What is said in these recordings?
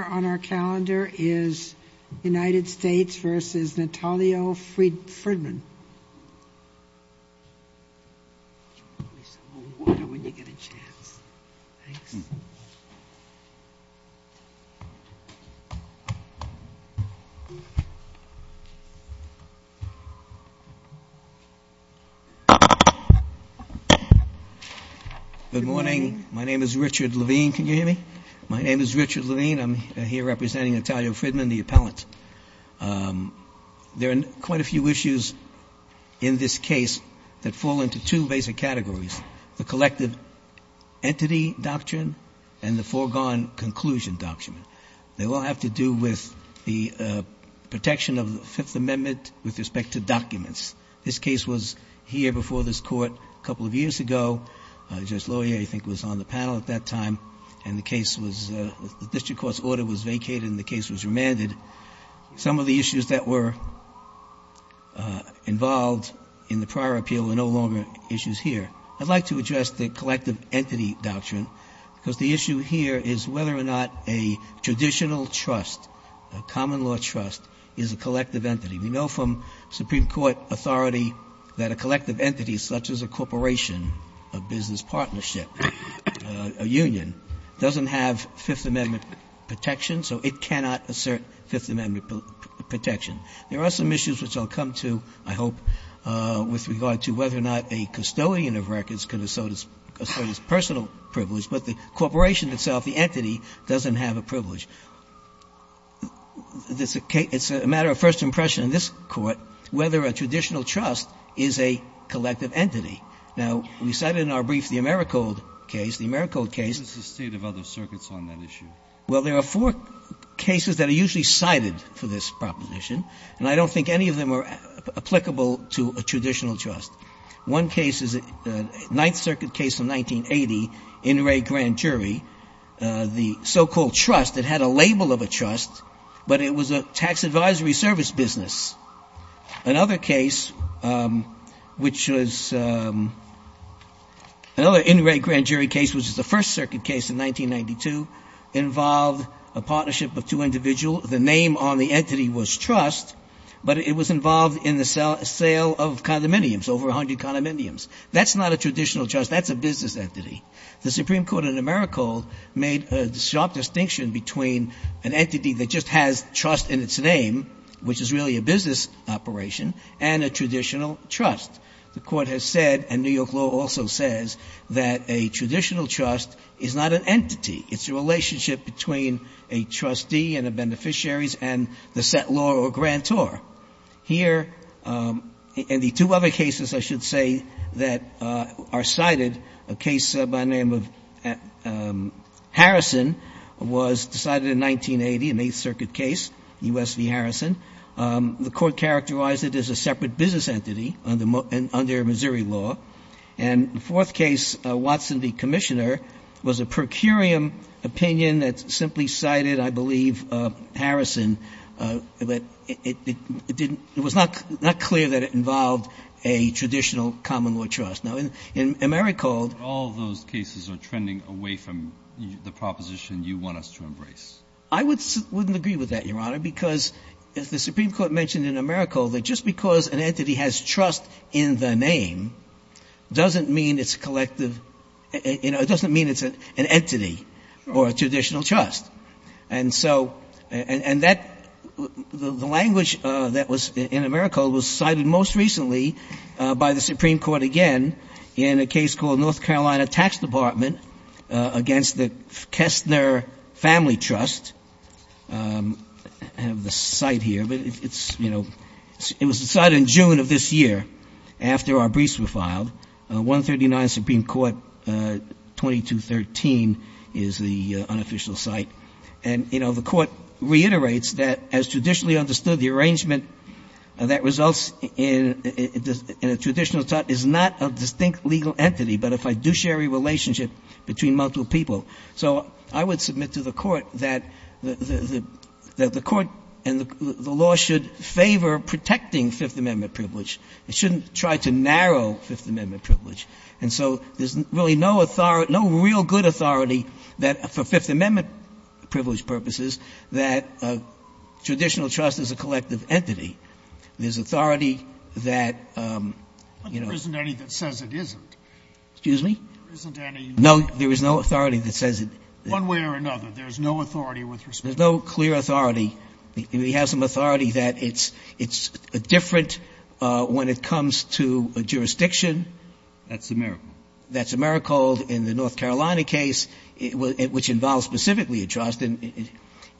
Good morning. My name is Richard Levine. Can you hear me? My name is Richard Levine. I'm here representing Natalia Fridman, the appellant. There are quite a few issues in this case that fall into two basic categories, the collective entity doctrine and the foregone conclusion doctrine. They all have to do with the protection of the Fifth Amendment with respect to documents. This case was here before this Court a couple of years ago. Judge Loyer, I think, was on the panel at that time, and the case was — the district court's order was vacated and the case was remanded. Some of the issues that were involved in the prior appeal were no longer issues here. I'd like to address the collective entity doctrine, because the issue here is whether or not a traditional trust, a common law trust, is a collective entity. We know from Supreme Court authority that a collective entity, such as a corporation, a business partnership, a union, doesn't have Fifth Amendment protection, so it cannot assert Fifth Amendment protection. There are some issues which I'll come to, I hope, with regard to whether or not a custodian of records can assert his personal privilege, but the corporation itself, the entity, doesn't have a privilege. It's a matter of first impression in this Court whether a traditional trust is a collective entity. Now, we cited in our brief the AmeriCode case. The AmeriCode case — This is the State of other circuits on that issue. Well, there are four cases that are usually cited for this proposition, and I don't think any of them are applicable to a traditional trust. One case is a Ninth Circuit case in 1980, Inouye Grand Jury. The so-called trust, it had a label of a trust, but it was a tax advisory service business. Another case, which was — another Inouye Grand Jury case, which was the First Circuit case in 1992, involved a partnership of two individuals. The name on the entity was trust, but it was involved in the sale of condominiums, over 100 condominiums. That's not a traditional trust. That's a business entity. The Supreme Court in AmeriCode made a sharp distinction between an entity that just has trust in its name, which is really a business operation, and a traditional trust. The Court has said, and New York law also says, that a traditional trust is not an entity. It's a relationship between a trustee and the beneficiaries and the set law or grantor. Here — and the two other cases, I should say, that are cited, a case by name of Harrison, was decided in 1980, an Eighth Circuit case, U.S. v. Harrison. The Court characterized it as a separate business entity under Missouri law. And the fourth case, Watson v. Commissioner, was a per curiam opinion that simply cited, I believe, Harrison, but it wasn't a business entity. It didn't — it was not clear that it involved a traditional common law trust. Now, in AmeriCode — But all those cases are trending away from the proposition you want us to embrace. I wouldn't agree with that, Your Honor, because the Supreme Court mentioned in AmeriCode that just because an entity has trust in the name doesn't mean it's a collective — it doesn't mean it's an entity or a traditional trust. And so — and that — the language that was in AmeriCode was cited most recently by the Supreme Court again in a case called North Carolina Tax Department against the Kessner Family Trust. I have the site here, but it's — you know, it was decided in June of this year after our briefs were filed. 139 Supreme Court, 2213 is the unofficial site. And, you know, the Court reiterates that, as traditionally understood, the arrangement that results in a traditional trust is not a distinct legal entity, but a fiduciary relationship between multiple people. So I would submit to the Court that the — that the Court and the law should favor protecting Fifth Amendment privilege. It shouldn't try to narrow Fifth Amendment privilege. And so there's really no authority — no real good authority that — for Fifth Amendment privilege to be a distinct legal entity. There's authority that traditional trust is a collective entity. There's authority that — But there isn't any that says it isn't. Excuse me? There isn't any — No, there is no authority that says it — One way or another, there's no authority with respect to — There's no clear authority. We have some authority that it's — it's different when it comes to jurisdiction. That's AmeriCode. That's AmeriCode in the North Carolina case, which involves specifically a trust. And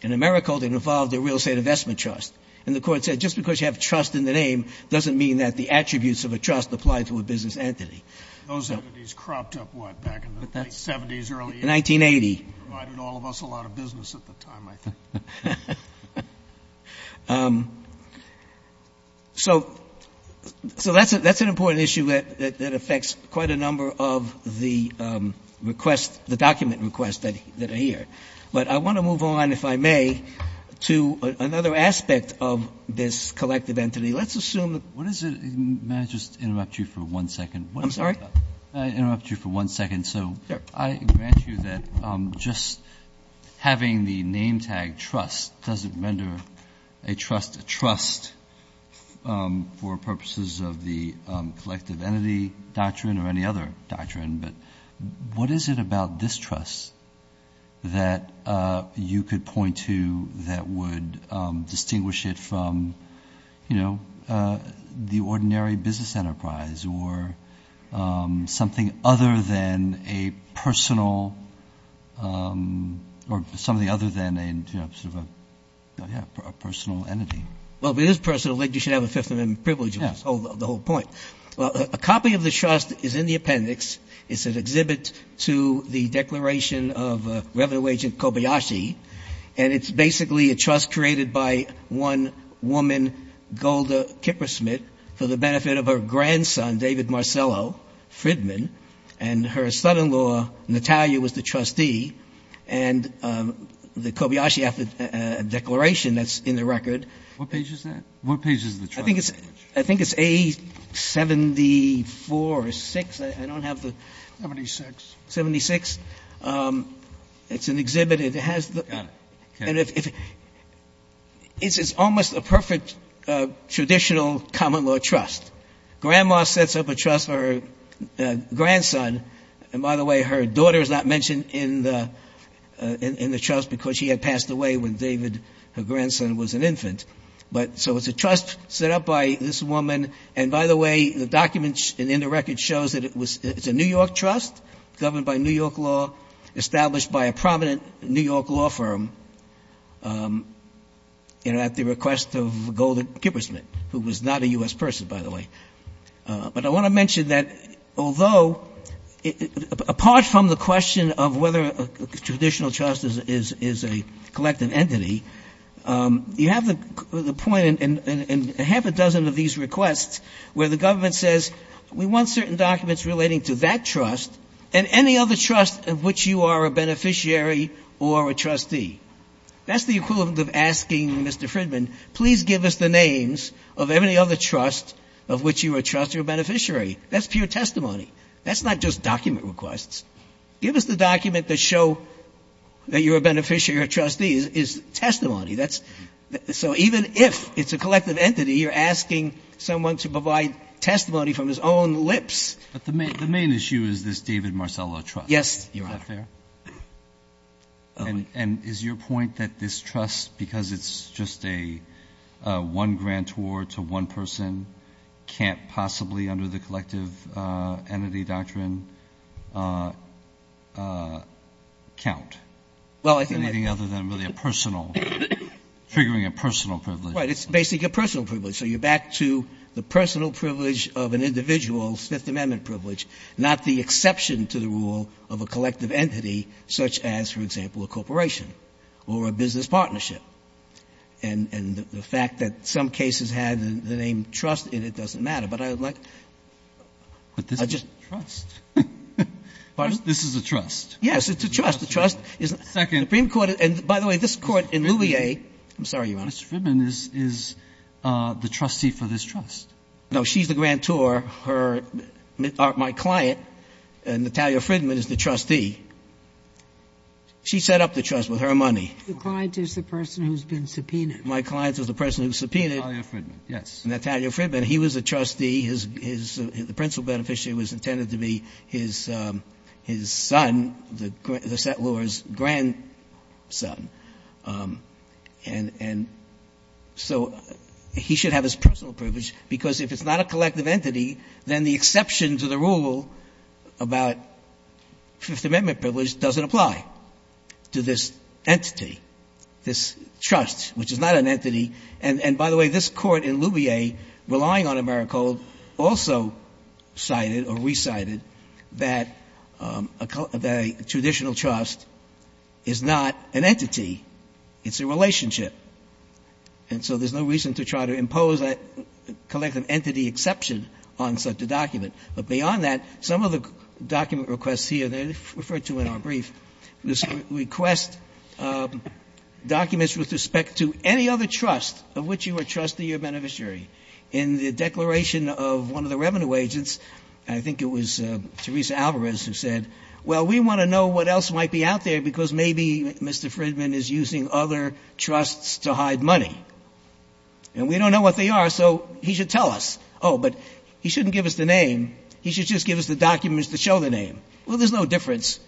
AmeriCode involved a real estate investment trust. And the Court said just because you have trust in the name doesn't mean that the attributes of a trust apply to a business entity. Those entities cropped up, what, back in the late 70s, early 80s? 1980. Provided all of us a lot of business at the time, I think. So — so that's a — that's an important issue that affects quite a number of the requests — the document requests that are here. But I want to move on, if I may, to another aspect of this collective entity. Let's assume that — What is it — may I just interrupt you for one second? I'm sorry? May I interrupt you for one second? Sure. So I grant you that just having the name tag trust doesn't render a trust a trust for purposes of the collective entity doctrine or any other doctrine. But what is it about this trust that you could point to that would distinguish it from, you know, the ordinary business enterprise or something other than a personal — or something other than a, you know, sort of a — yeah, a personal entity? Well, if it is personal, I think you should have a Fifth Amendment privilege of the whole point. Well, a copy of the trust is in the appendix. It's an exhibit to the Declaration of Revenue Agent Kobayashi. And it's basically a trust created by one woman, Golda Kippersmith, for the benefit of her grandson, David Marcello Fridman. And her son-in-law, Natalia, was the trustee. And the Kobayashi Declaration that's in the record — What page is that? I think it's — I think it's A-74-6. I don't have the — 76. 76. It's an exhibit. It has the — Got it. Okay. It's almost a perfect traditional common law trust. Grandma sets up a trust for her grandson. And by the way, her daughter is not mentioned in the trust because she had passed away when David, her grandson, was an infant. But — so it's a trust set up by this woman. And by the way, the documents in the record shows that it was — it's a New York trust, governed by New York law, established by a prominent New York law firm at the request of Golda Kippersmith, who was not a U.S. person, by the way. But I want to mention that although — apart from the question of whether a traditional trust is a collective entity, you have the point in half a dozen of these requests where the government says, we want certain documents relating to that trust and any other trust of which you are a beneficiary or a trustee. That's the equivalent of asking Mr. Fridman, please give us the names of any other trust of which you are a trustee or beneficiary. That's pure testimony. That's not just document requests. Give us the document that show that you are a beneficiary or a trustee is testimony. That's — so even if it's a collective entity, you're asking someone to provide testimony from his own lips. But the main issue is this David Marcello trust. Yes, Your Honor. Is that fair? And is your point that this trust, because it's just a one-grant tour to one person, can't possibly under the collective entity doctrine count? Well, I think — Anything other than really a personal — triggering a personal privilege. Right. It's basically a personal privilege. So you're back to the personal privilege of an individual's Fifth Amendment privilege, not the exception to the rule of a collective entity such as, for example, a corporation or a business partnership. And the fact that some cases had the name trust in it doesn't matter. But I would like — But this is a trust. This is a trust. Yes, it's a trust. The trust is — Second. And by the way, this Court in Louvier — Mr. Fridman is the trustee for this trust. No. She's the grantor. Her — my client, Natalia Fridman, is the trustee. She set up the trust with her money. The client is the person who's been subpoenaed. My client is the person who's subpoenaed. Natalia Fridman, yes. Natalia Fridman. He was a trustee. The principal beneficiary was intended to be his son, the settlor's grandson. And so he should have his personal privilege, because if it's not a collective entity, then the exception to the rule about Fifth Amendment privilege doesn't apply to this entity, this trust, which is not an entity. And by the way, this Court in Louvier, relying on Americold, also cited or recited that a traditional trust is not an entity. It's a relationship. And so there's no reason to try to impose a collective entity exception on such a document. But beyond that, some of the document requests here, they're referred to in our brief, request documents with respect to any other trust of which you are a trustee or beneficiary. In the declaration of one of the revenue agents, I think it was Teresa Alvarez who said, well, we want to know what else might be out there because maybe Mr. Fridman is using other trusts to hide money. And we don't know what they are, so he should tell us. Oh, but he shouldn't give us the name. He should just give us the documents that show the name. Well, there's no difference.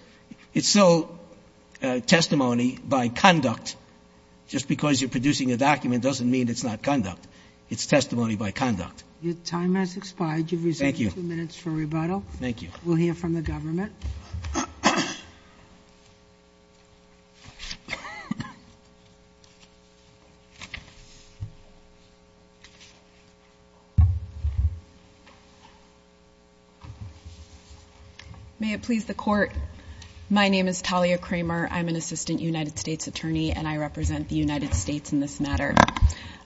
It's still testimony by conduct. Just because you're producing a document doesn't mean it's not conduct. It's testimony by conduct. Your time has expired. Thank you. You've received two minutes for rebuttal. Thank you. We'll hear from the government. May it please the Court, my name is Talia Kramer. I'm an assistant United States attorney, and I represent the United States in this matter.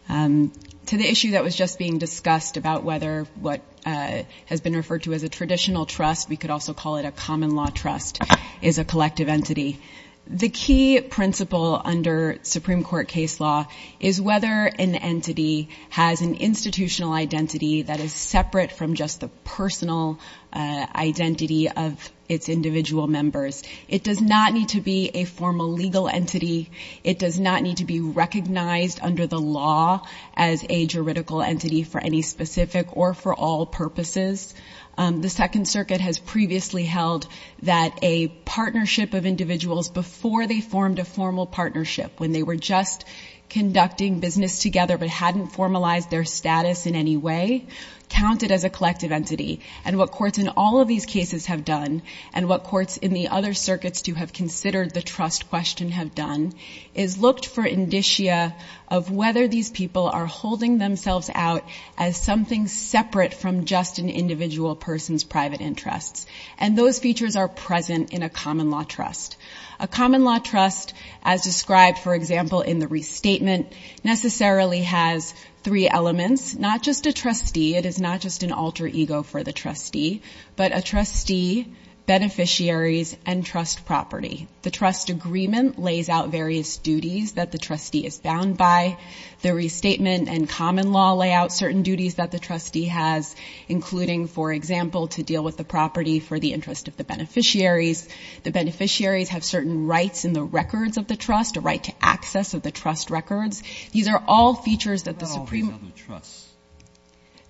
To the issue that was just being discussed about whether what has been referred to as a traditional trust, we could also call it a common law trust, is a collective entity. The key principle under Supreme Court case law is whether an entity has an institutional identity that is separate from just the personal identity of its individual members. It does not need to be a formal legal entity. It does not need to be recognized under the law as a juridical entity for any specific or for all purposes. The Second Circuit has previously held that a partnership of individuals before they formed a formal partnership, when they were just conducting business together but hadn't formalized their status in any way, counted as a collective entity. And what courts in all of these cases have done, and what courts in the other circuits to have considered the trust question have done, is looked for indicia of whether these people are holding themselves out as something separate from just an individual person's private interests. And those features are present in a common law trust. A common law trust, as described, for example, in the restatement, necessarily has three elements, not just a trustee, it is not just an alter ego for the trustee, but a trustee, beneficiaries, and trust property. The trust agreement lays out various duties that the trustee is bound by. The restatement and common law lay out certain duties that the trustee has, including, for example, to deal with the property for the interest of the beneficiaries. The beneficiaries have certain rights in the records of the trust, a right to access of the trust records. These are all features that the Supreme Court ---- What about all these other trusts?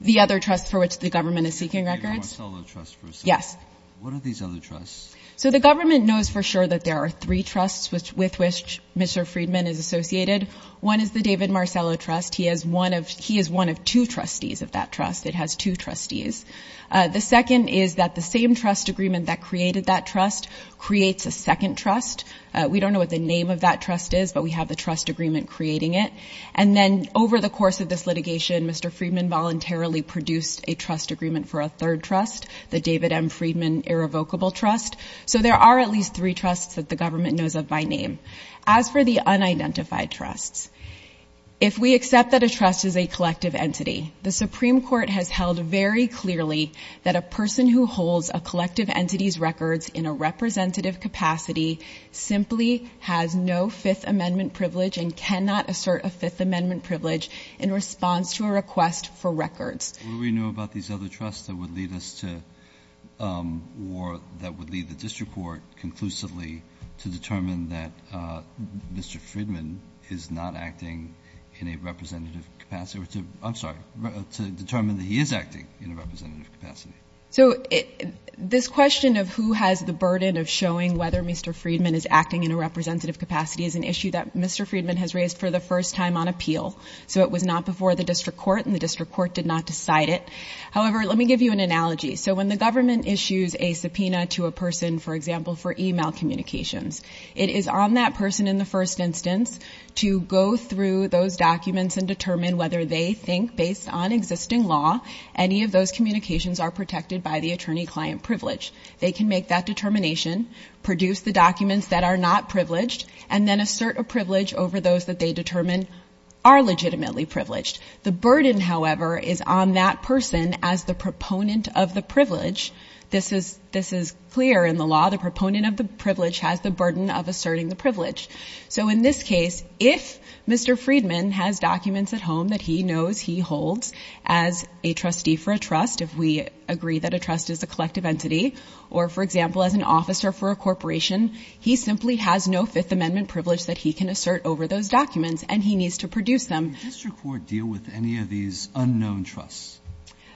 The other trusts for which the government is seeking records? Yes. What are these other trusts? So, the government knows for sure that there are three trusts with which Mr. Friedman is associated. One is the David Marcello Trust. He is one of two trustees of that trust. It has two trustees. The second is that the same trust agreement that created that trust creates a second trust. We don't know what the name of that trust is, but we have the trust agreement creating it. And then, over the course of this litigation, Mr. Friedman voluntarily produced a trust so there are at least three trusts that the government knows of by name. As for the unidentified trusts, if we accept that a trust is a collective entity, the Supreme Court has held very clearly that a person who holds a collective entity's records in a representative capacity simply has no Fifth Amendment privilege and cannot assert a Fifth Amendment privilege. And so, we have heard, we know about these other trusts that would lead us to or that would lead the district court conclusively to determine that Mr. Friedman is not acting in a representative capacity, or to — I'm sorry, to determine that he is acting in a representative capacity. So, this question of who has the burden of showing whether Mr. Friedman is acting in a representative capacity is an issue that Mr. Friedman has raised for the first time on appeal. So, it was not before the district court, and the district court did not decide it. However, let me give you an analogy. So, when the government issues a subpoena to a person, for example, for email communications, it is on that person in the first instance to go through those documents and determine whether they think, based on existing law, any of those communications are protected by the attorney-client privilege. They can make that determination, produce the documents that are not privileged, and then assert a privilege over those that they determine are legitimately privileged. The burden, however, is on that person as the proponent of the privilege. This is clear in the law. The proponent of the privilege has the burden of asserting the privilege. So, in this case, if Mr. Friedman has documents at home that he knows he holds as a trustee for a trust, if we agree that a trust is a collective entity, or, for example, as an officer for a corporation, he simply has no Fifth Amendment privilege that he can assert over those documents, and he needs to produce them. Did the district court deal with any of these unknown trusts?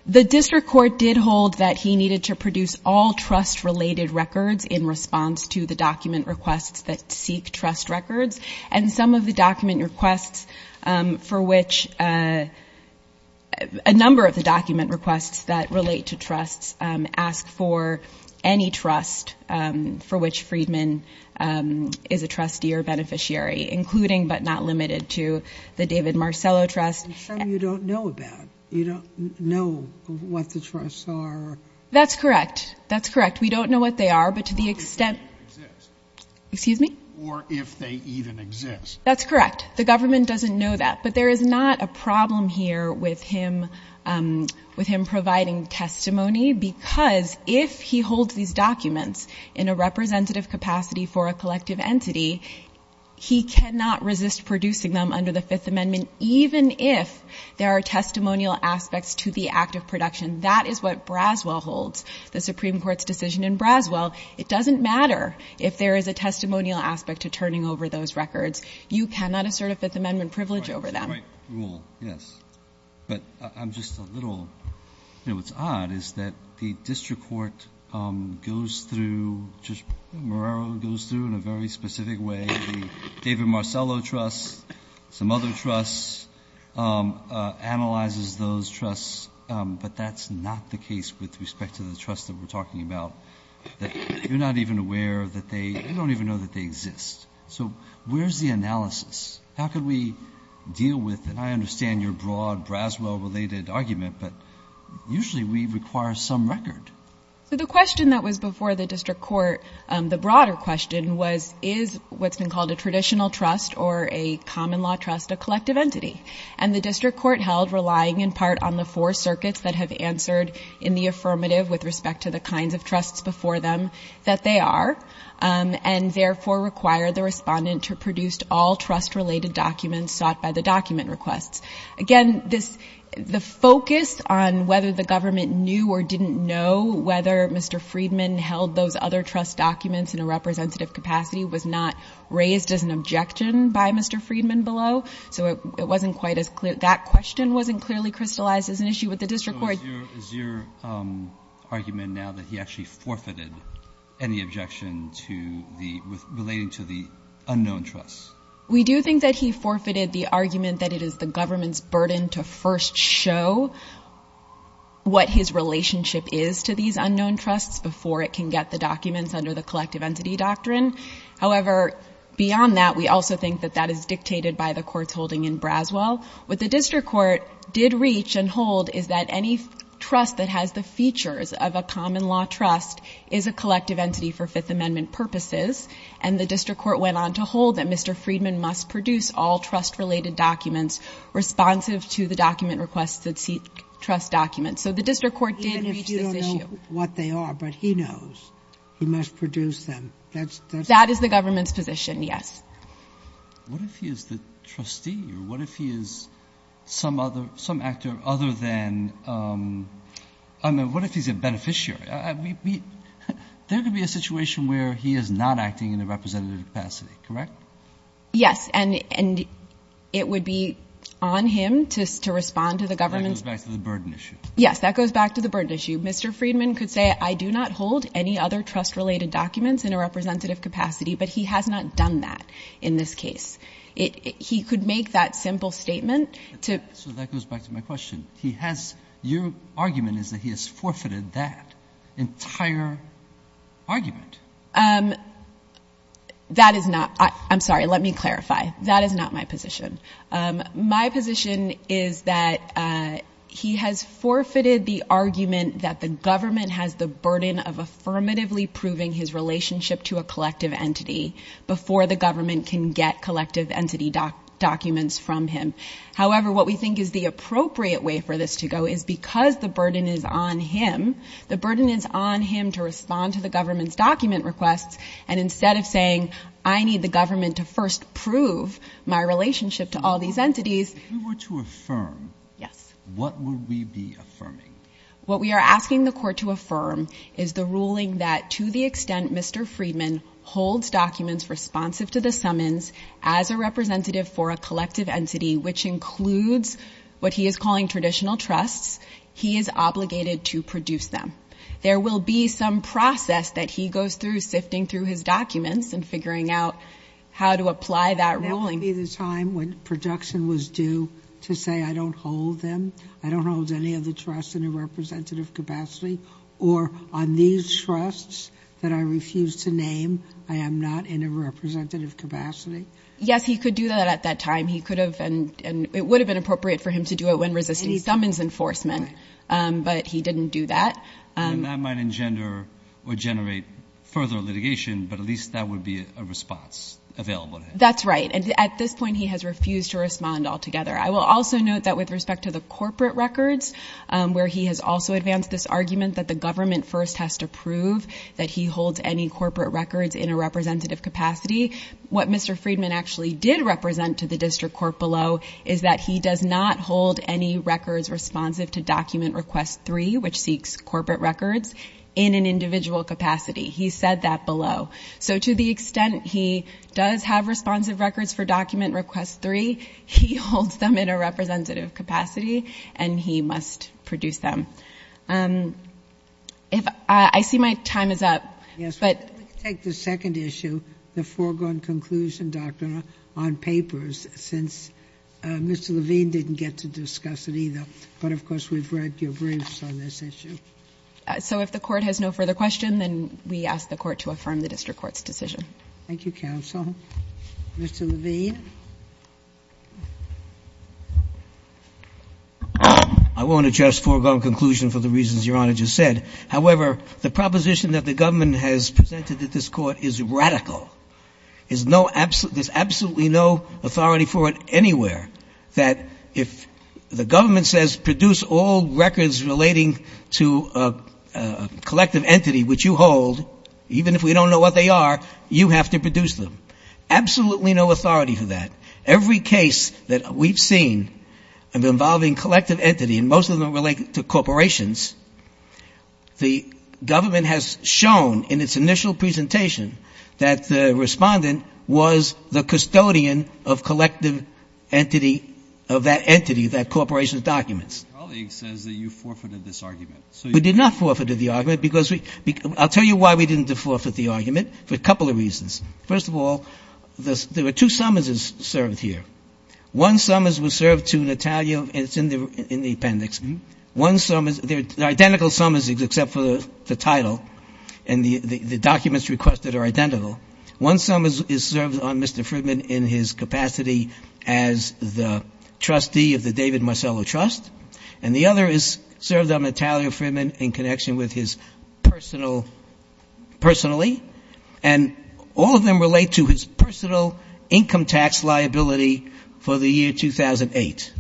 The district court did hold that he needed to produce all trust-related records in response to the document requests that seek trust records, and some of the document requests for which a number of the document requests that relate to trusts ask for any trust for which Friedman is a trustee or beneficiary, including, but not limited to, the David Marcello Trust. And some you don't know about. You don't know what the trusts are. That's correct. That's correct. We don't know what they are, but to the extent— Or if they even exist. Excuse me? Or if they even exist. That's correct. The government doesn't know that. But there is not a problem here with him providing testimony, because if he holds these documents in a representative capacity for a collective entity, he cannot resist producing them under the Fifth Amendment, even if there are testimonial aspects to the act of production. That is what Braswell holds, the Supreme Court's decision in Braswell. It doesn't matter if there is a testimonial aspect to turning over those records. You cannot assert a Fifth Amendment privilege over them. That's a great rule, yes. But I'm just a little—you know, what's odd is that the district court goes through, just Morero goes through in a very specific way, the David Marcello Trust, some other trusts, analyzes those trusts, but that's not the case with respect to the trusts that we're talking about, that you're not even aware that they—you don't even know that they exist. So where's the analysis? How can we deal with—and I understand your broad Braswell-related argument, but usually we require some record. So the question that was before the district court, the broader question was, is what's been called a traditional trust or a common law trust a collective entity? And the district court held, relying in part on the four circuits that have answered in the affirmative with respect to the kinds of trusts before them that they are, and therefore require the respondent to produce all trust-related documents sought by the document requests. Again, this—the focus on whether the government knew or didn't know whether Mr. Friedman held those other trust documents in a representative capacity was not raised as an objection by Mr. Friedman below. So it wasn't quite as clear—that question wasn't clearly crystallized as an issue with the district court. Is your—is your argument now that he actually forfeited any objection to the—relating to the unknown trusts? We do think that he forfeited the argument that it is the government's burden to first show what his relationship is to these unknown trusts before it can get the documents under the collective entity doctrine. However, beyond that, we also think that that is dictated by the courts holding in Braswell. What the district court did reach and hold is that any trust that has the features of a common law trust is a collective entity for Fifth Amendment purposes. And the district court went on to hold that Mr. Friedman must produce all trust-related documents responsive to the document requests that seek trust documents. So the district court did reach this issue. But even if you don't know what they are, but he knows, he must produce them. That's—that's— That is the government's position, yes. What if he is the trustee? What if he is some other—some actor other than—I mean, what if he's a beneficiary? We—we—there could be a situation where he is not acting in a representative capacity, correct? Yes. And—and it would be on him to—to respond to the government's— That goes back to the burden issue. Yes. That goes back to the burden issue. Mr. Friedman could say, I do not hold any other trust-related documents in a representative capacity, but he has not done that in this case. It—he could make that simple statement to— So that goes back to my question. He has—your argument is that he has forfeited that entire argument. That is not—I'm sorry, let me clarify. That is not my position. My position is that he has forfeited the argument that the government has the burden of his relationship to a collective entity before the government can get collective entity documents from him. However, what we think is the appropriate way for this to go is because the burden is on him, the burden is on him to respond to the government's document requests, and instead of saying, I need the government to first prove my relationship to all these entities— If we were to affirm— Yes. What would we be affirming? What we are asking the court to affirm is the ruling that to the extent Mr. Friedman holds documents responsive to the summons as a representative for a collective entity, which includes what he is calling traditional trusts, he is obligated to produce them. There will be some process that he goes through sifting through his documents and figuring out how to apply that ruling. That would be the time when production was due to say, I don't hold them, I don't hold any of the trusts in a representative capacity, or on these trusts that I refuse to name, I am not in a representative capacity. Yes, he could do that at that time. He could have, and it would have been appropriate for him to do it when resisting summons enforcement, but he didn't do that. And that might engender or generate further litigation, but at least that would be a response available to him. That's right. At this point, he has refused to respond altogether. I will also note that with respect to the corporate records, where he has also advanced this argument that the government first has to prove that he holds any corporate records in a representative capacity, what Mr. Friedman actually did represent to the district court below is that he does not hold any records responsive to Document Request 3, which seeks corporate records, in an individual capacity. He said that below. So to the extent he does have responsive records for Document Request 3, he holds them in a representative capacity, and he must produce them. I see my time is up. Yes, but let's take the second issue, the foregone conclusion doctrine on papers, since Mr. Levine didn't get to discuss it either. But, of course, we've read your briefs on this issue. So if the Court has no further question, then we ask the Court to affirm the district court's decision. Thank you, counsel. Mr. Levine. I won't address foregone conclusion for the reasons Your Honor just said. However, the proposition that the government has presented to this Court is radical. There's absolutely no authority for it anywhere that if the government says produce all records relating to a collective entity which you hold, even if we don't know what they are, you have to produce them. Absolutely no authority. Every case that we've seen involving collective entity, and most of them relate to corporations, the government has shown in its initial presentation that the respondent was the custodian of collective entity, of that entity, that corporation's documents. Your colleague says that you forfeited this argument. We did not forfeited the argument. I'll tell you why we didn't forfeit the argument, for a couple of reasons. First of all, there were two summonses served here. One summons was served to Natalia, and it's in the appendix. One summons, they're identical summons except for the title, and the documents requested are identical. One summons is served on Mr. Friedman in his capacity as the trustee of the David Marcello Trust, and the other is served on Natalia Friedman in connection with his personal, personally, and all of them relate to his personal income tax liability for the year 2008.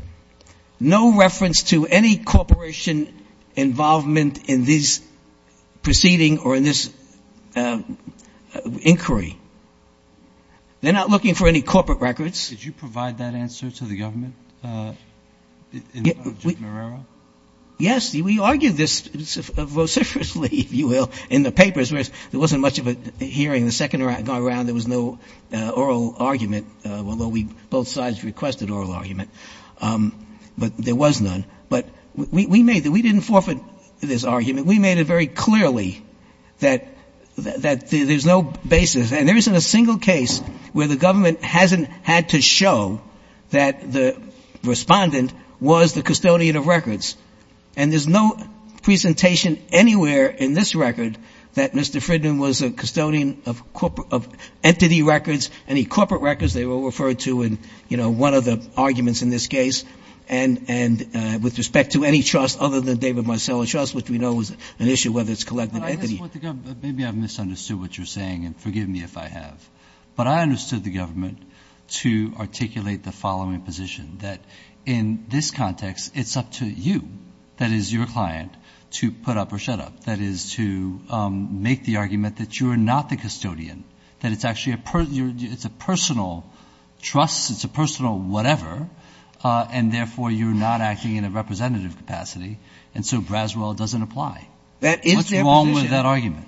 No reference to any corporation involvement in this proceeding or in this inquiry. They're not looking for any corporate records. Did you provide that answer to the government? Yes. We argued this vociferously, if you will, in the papers, whereas there wasn't much of a hearing. The second round, there was no oral argument, although we both sides requested oral argument, but there was none. But we made it. We didn't forfeit this argument. We made it very clearly that there's no basis, and there isn't a single case where the respondent was the custodian of records. And there's no presentation anywhere in this record that Mr. Friedman was a custodian of entity records, any corporate records they were referred to in, you know, one of the arguments in this case. And with respect to any trust other than the David Marcello Trust, which we know is an issue, whether it's collective entity. Maybe I've misunderstood what you're saying, and forgive me if I have. But I understood the government to articulate the following position, that in this context, it's up to you, that is, your client, to put up or shut up. That is, to make the argument that you are not the custodian, that it's actually a personal trust, it's a personal whatever, and therefore you're not acting in a representative capacity, and so Braswell doesn't apply. What's wrong with that argument?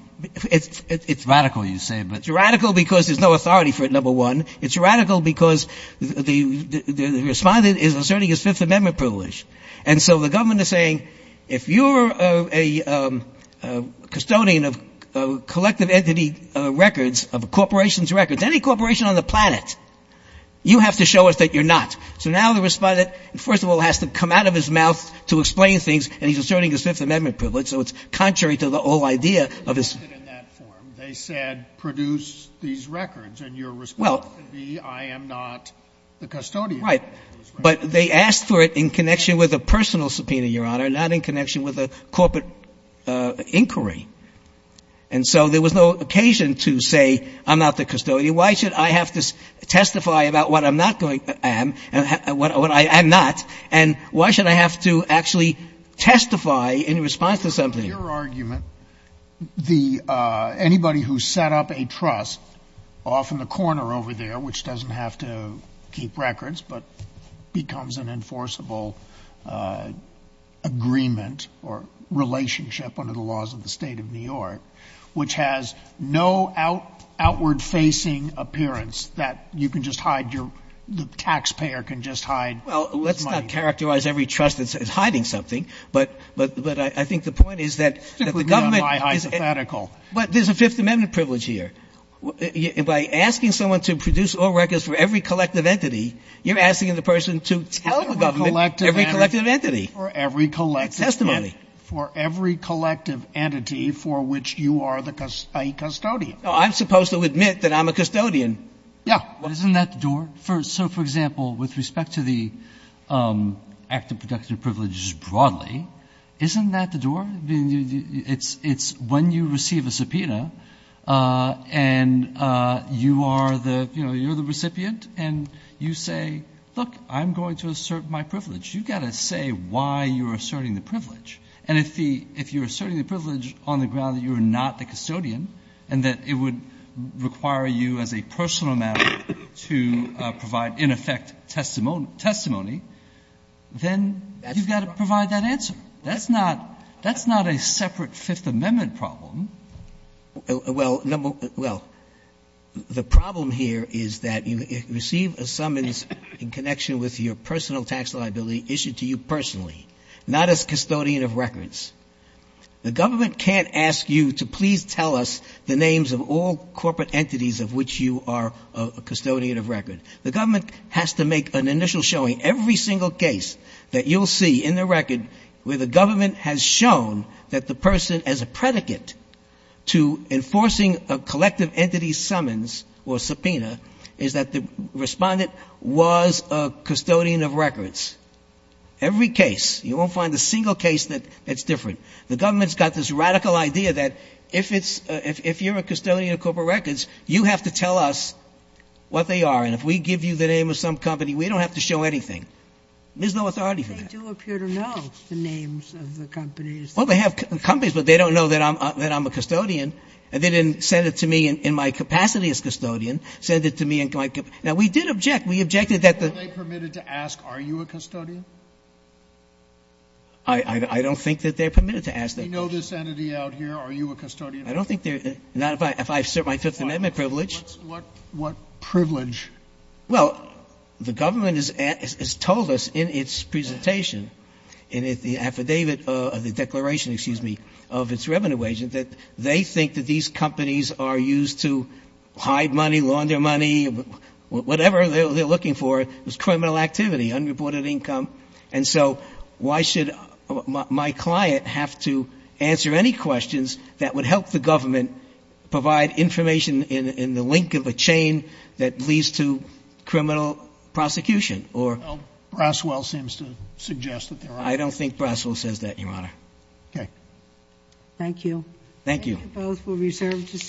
It's radical, you say. It's radical because there's no authority for it, number one. It's radical because the respondent is asserting his Fifth Amendment privilege. And so the government is saying, if you're a custodian of collective entity records, of a corporation's records, any corporation on the planet, you have to show us that you're not. So now the respondent, first of all, has to come out of his mouth to explain things, and he's asserting his Fifth Amendment privilege, so it's contrary to the whole idea of his They said produce these records, and your response could be, I am not the custodian of those records. Right. But they asked for it in connection with a personal subpoena, Your Honor, not in connection with a corporate inquiry. And so there was no occasion to say, I'm not the custodian. Why should I have to testify about what I'm not going to am, what I am not, and why should I have to actually testify in response to something? In your argument, anybody who set up a trust off in the corner over there, which doesn't have to keep records but becomes an enforceable agreement or relationship under the laws of the state of New York, which has no outward-facing appearance that you can just hide, the taxpayer can just hide. Well, let's not characterize every trust as hiding something. But I think the point is that the government is But there's a Fifth Amendment privilege here. By asking someone to produce all records for every collective entity, you're asking the person to tell the government every collective entity. For every collective entity for which you are a custodian. I'm supposed to admit that I'm a custodian. Yeah. Isn't that the door? So, for example, with respect to the act of production of privileges broadly, isn't that the door? It's when you receive a subpoena and you are the, you know, you're the recipient and you say, look, I'm going to assert my privilege. You've got to say why you're asserting the privilege. And if you're asserting the privilege on the ground that you're not the custodian and that it would require you as a personal matter to provide, in effect, testimony, then you've got to provide that answer. That's not a separate Fifth Amendment problem. Well, the problem here is that you receive a summons in connection with your personal tax liability issued to you personally, not as custodian of records. The government can't ask you to please tell us the names of all corporate entities of which you are a custodian of record. The government has to make an initial showing. Every single case that you'll see in the record where the government has shown that the person as a predicate to enforcing a collective entity summons or subpoena is that the respondent was a custodian of records. Every case. You won't find a single case that's different. The government's got this radical idea that if you're a custodian of corporate records, you have to tell us what they are, and if we give you the name of some company, we don't have to show anything. There's no authority for that. They do appear to know the names of the companies. Well, they have companies, but they don't know that I'm a custodian. They didn't send it to me in my capacity as custodian. Now, we did object. We objected that the – Are they permitted to ask, are you a custodian? I don't think that they're permitted to ask that question. We know this entity out here. Are you a custodian? I don't think they're – not if I assert my Fifth Amendment privilege. What privilege? Well, the government has told us in its presentation, in the affidavit of the declaration, excuse me, of its revenue agent, that they think that these companies are used to hide money, laundering money, whatever they're looking for. It was criminal activity, unreported income. And so why should my client have to answer any questions that would help the government provide information in the link of a chain that leads to criminal prosecution or – Well, Braswell seems to suggest that there are – I don't think Braswell says that, Your Honor. Okay. Thank you. Thank you. Thank you both. Thank you. Thank you.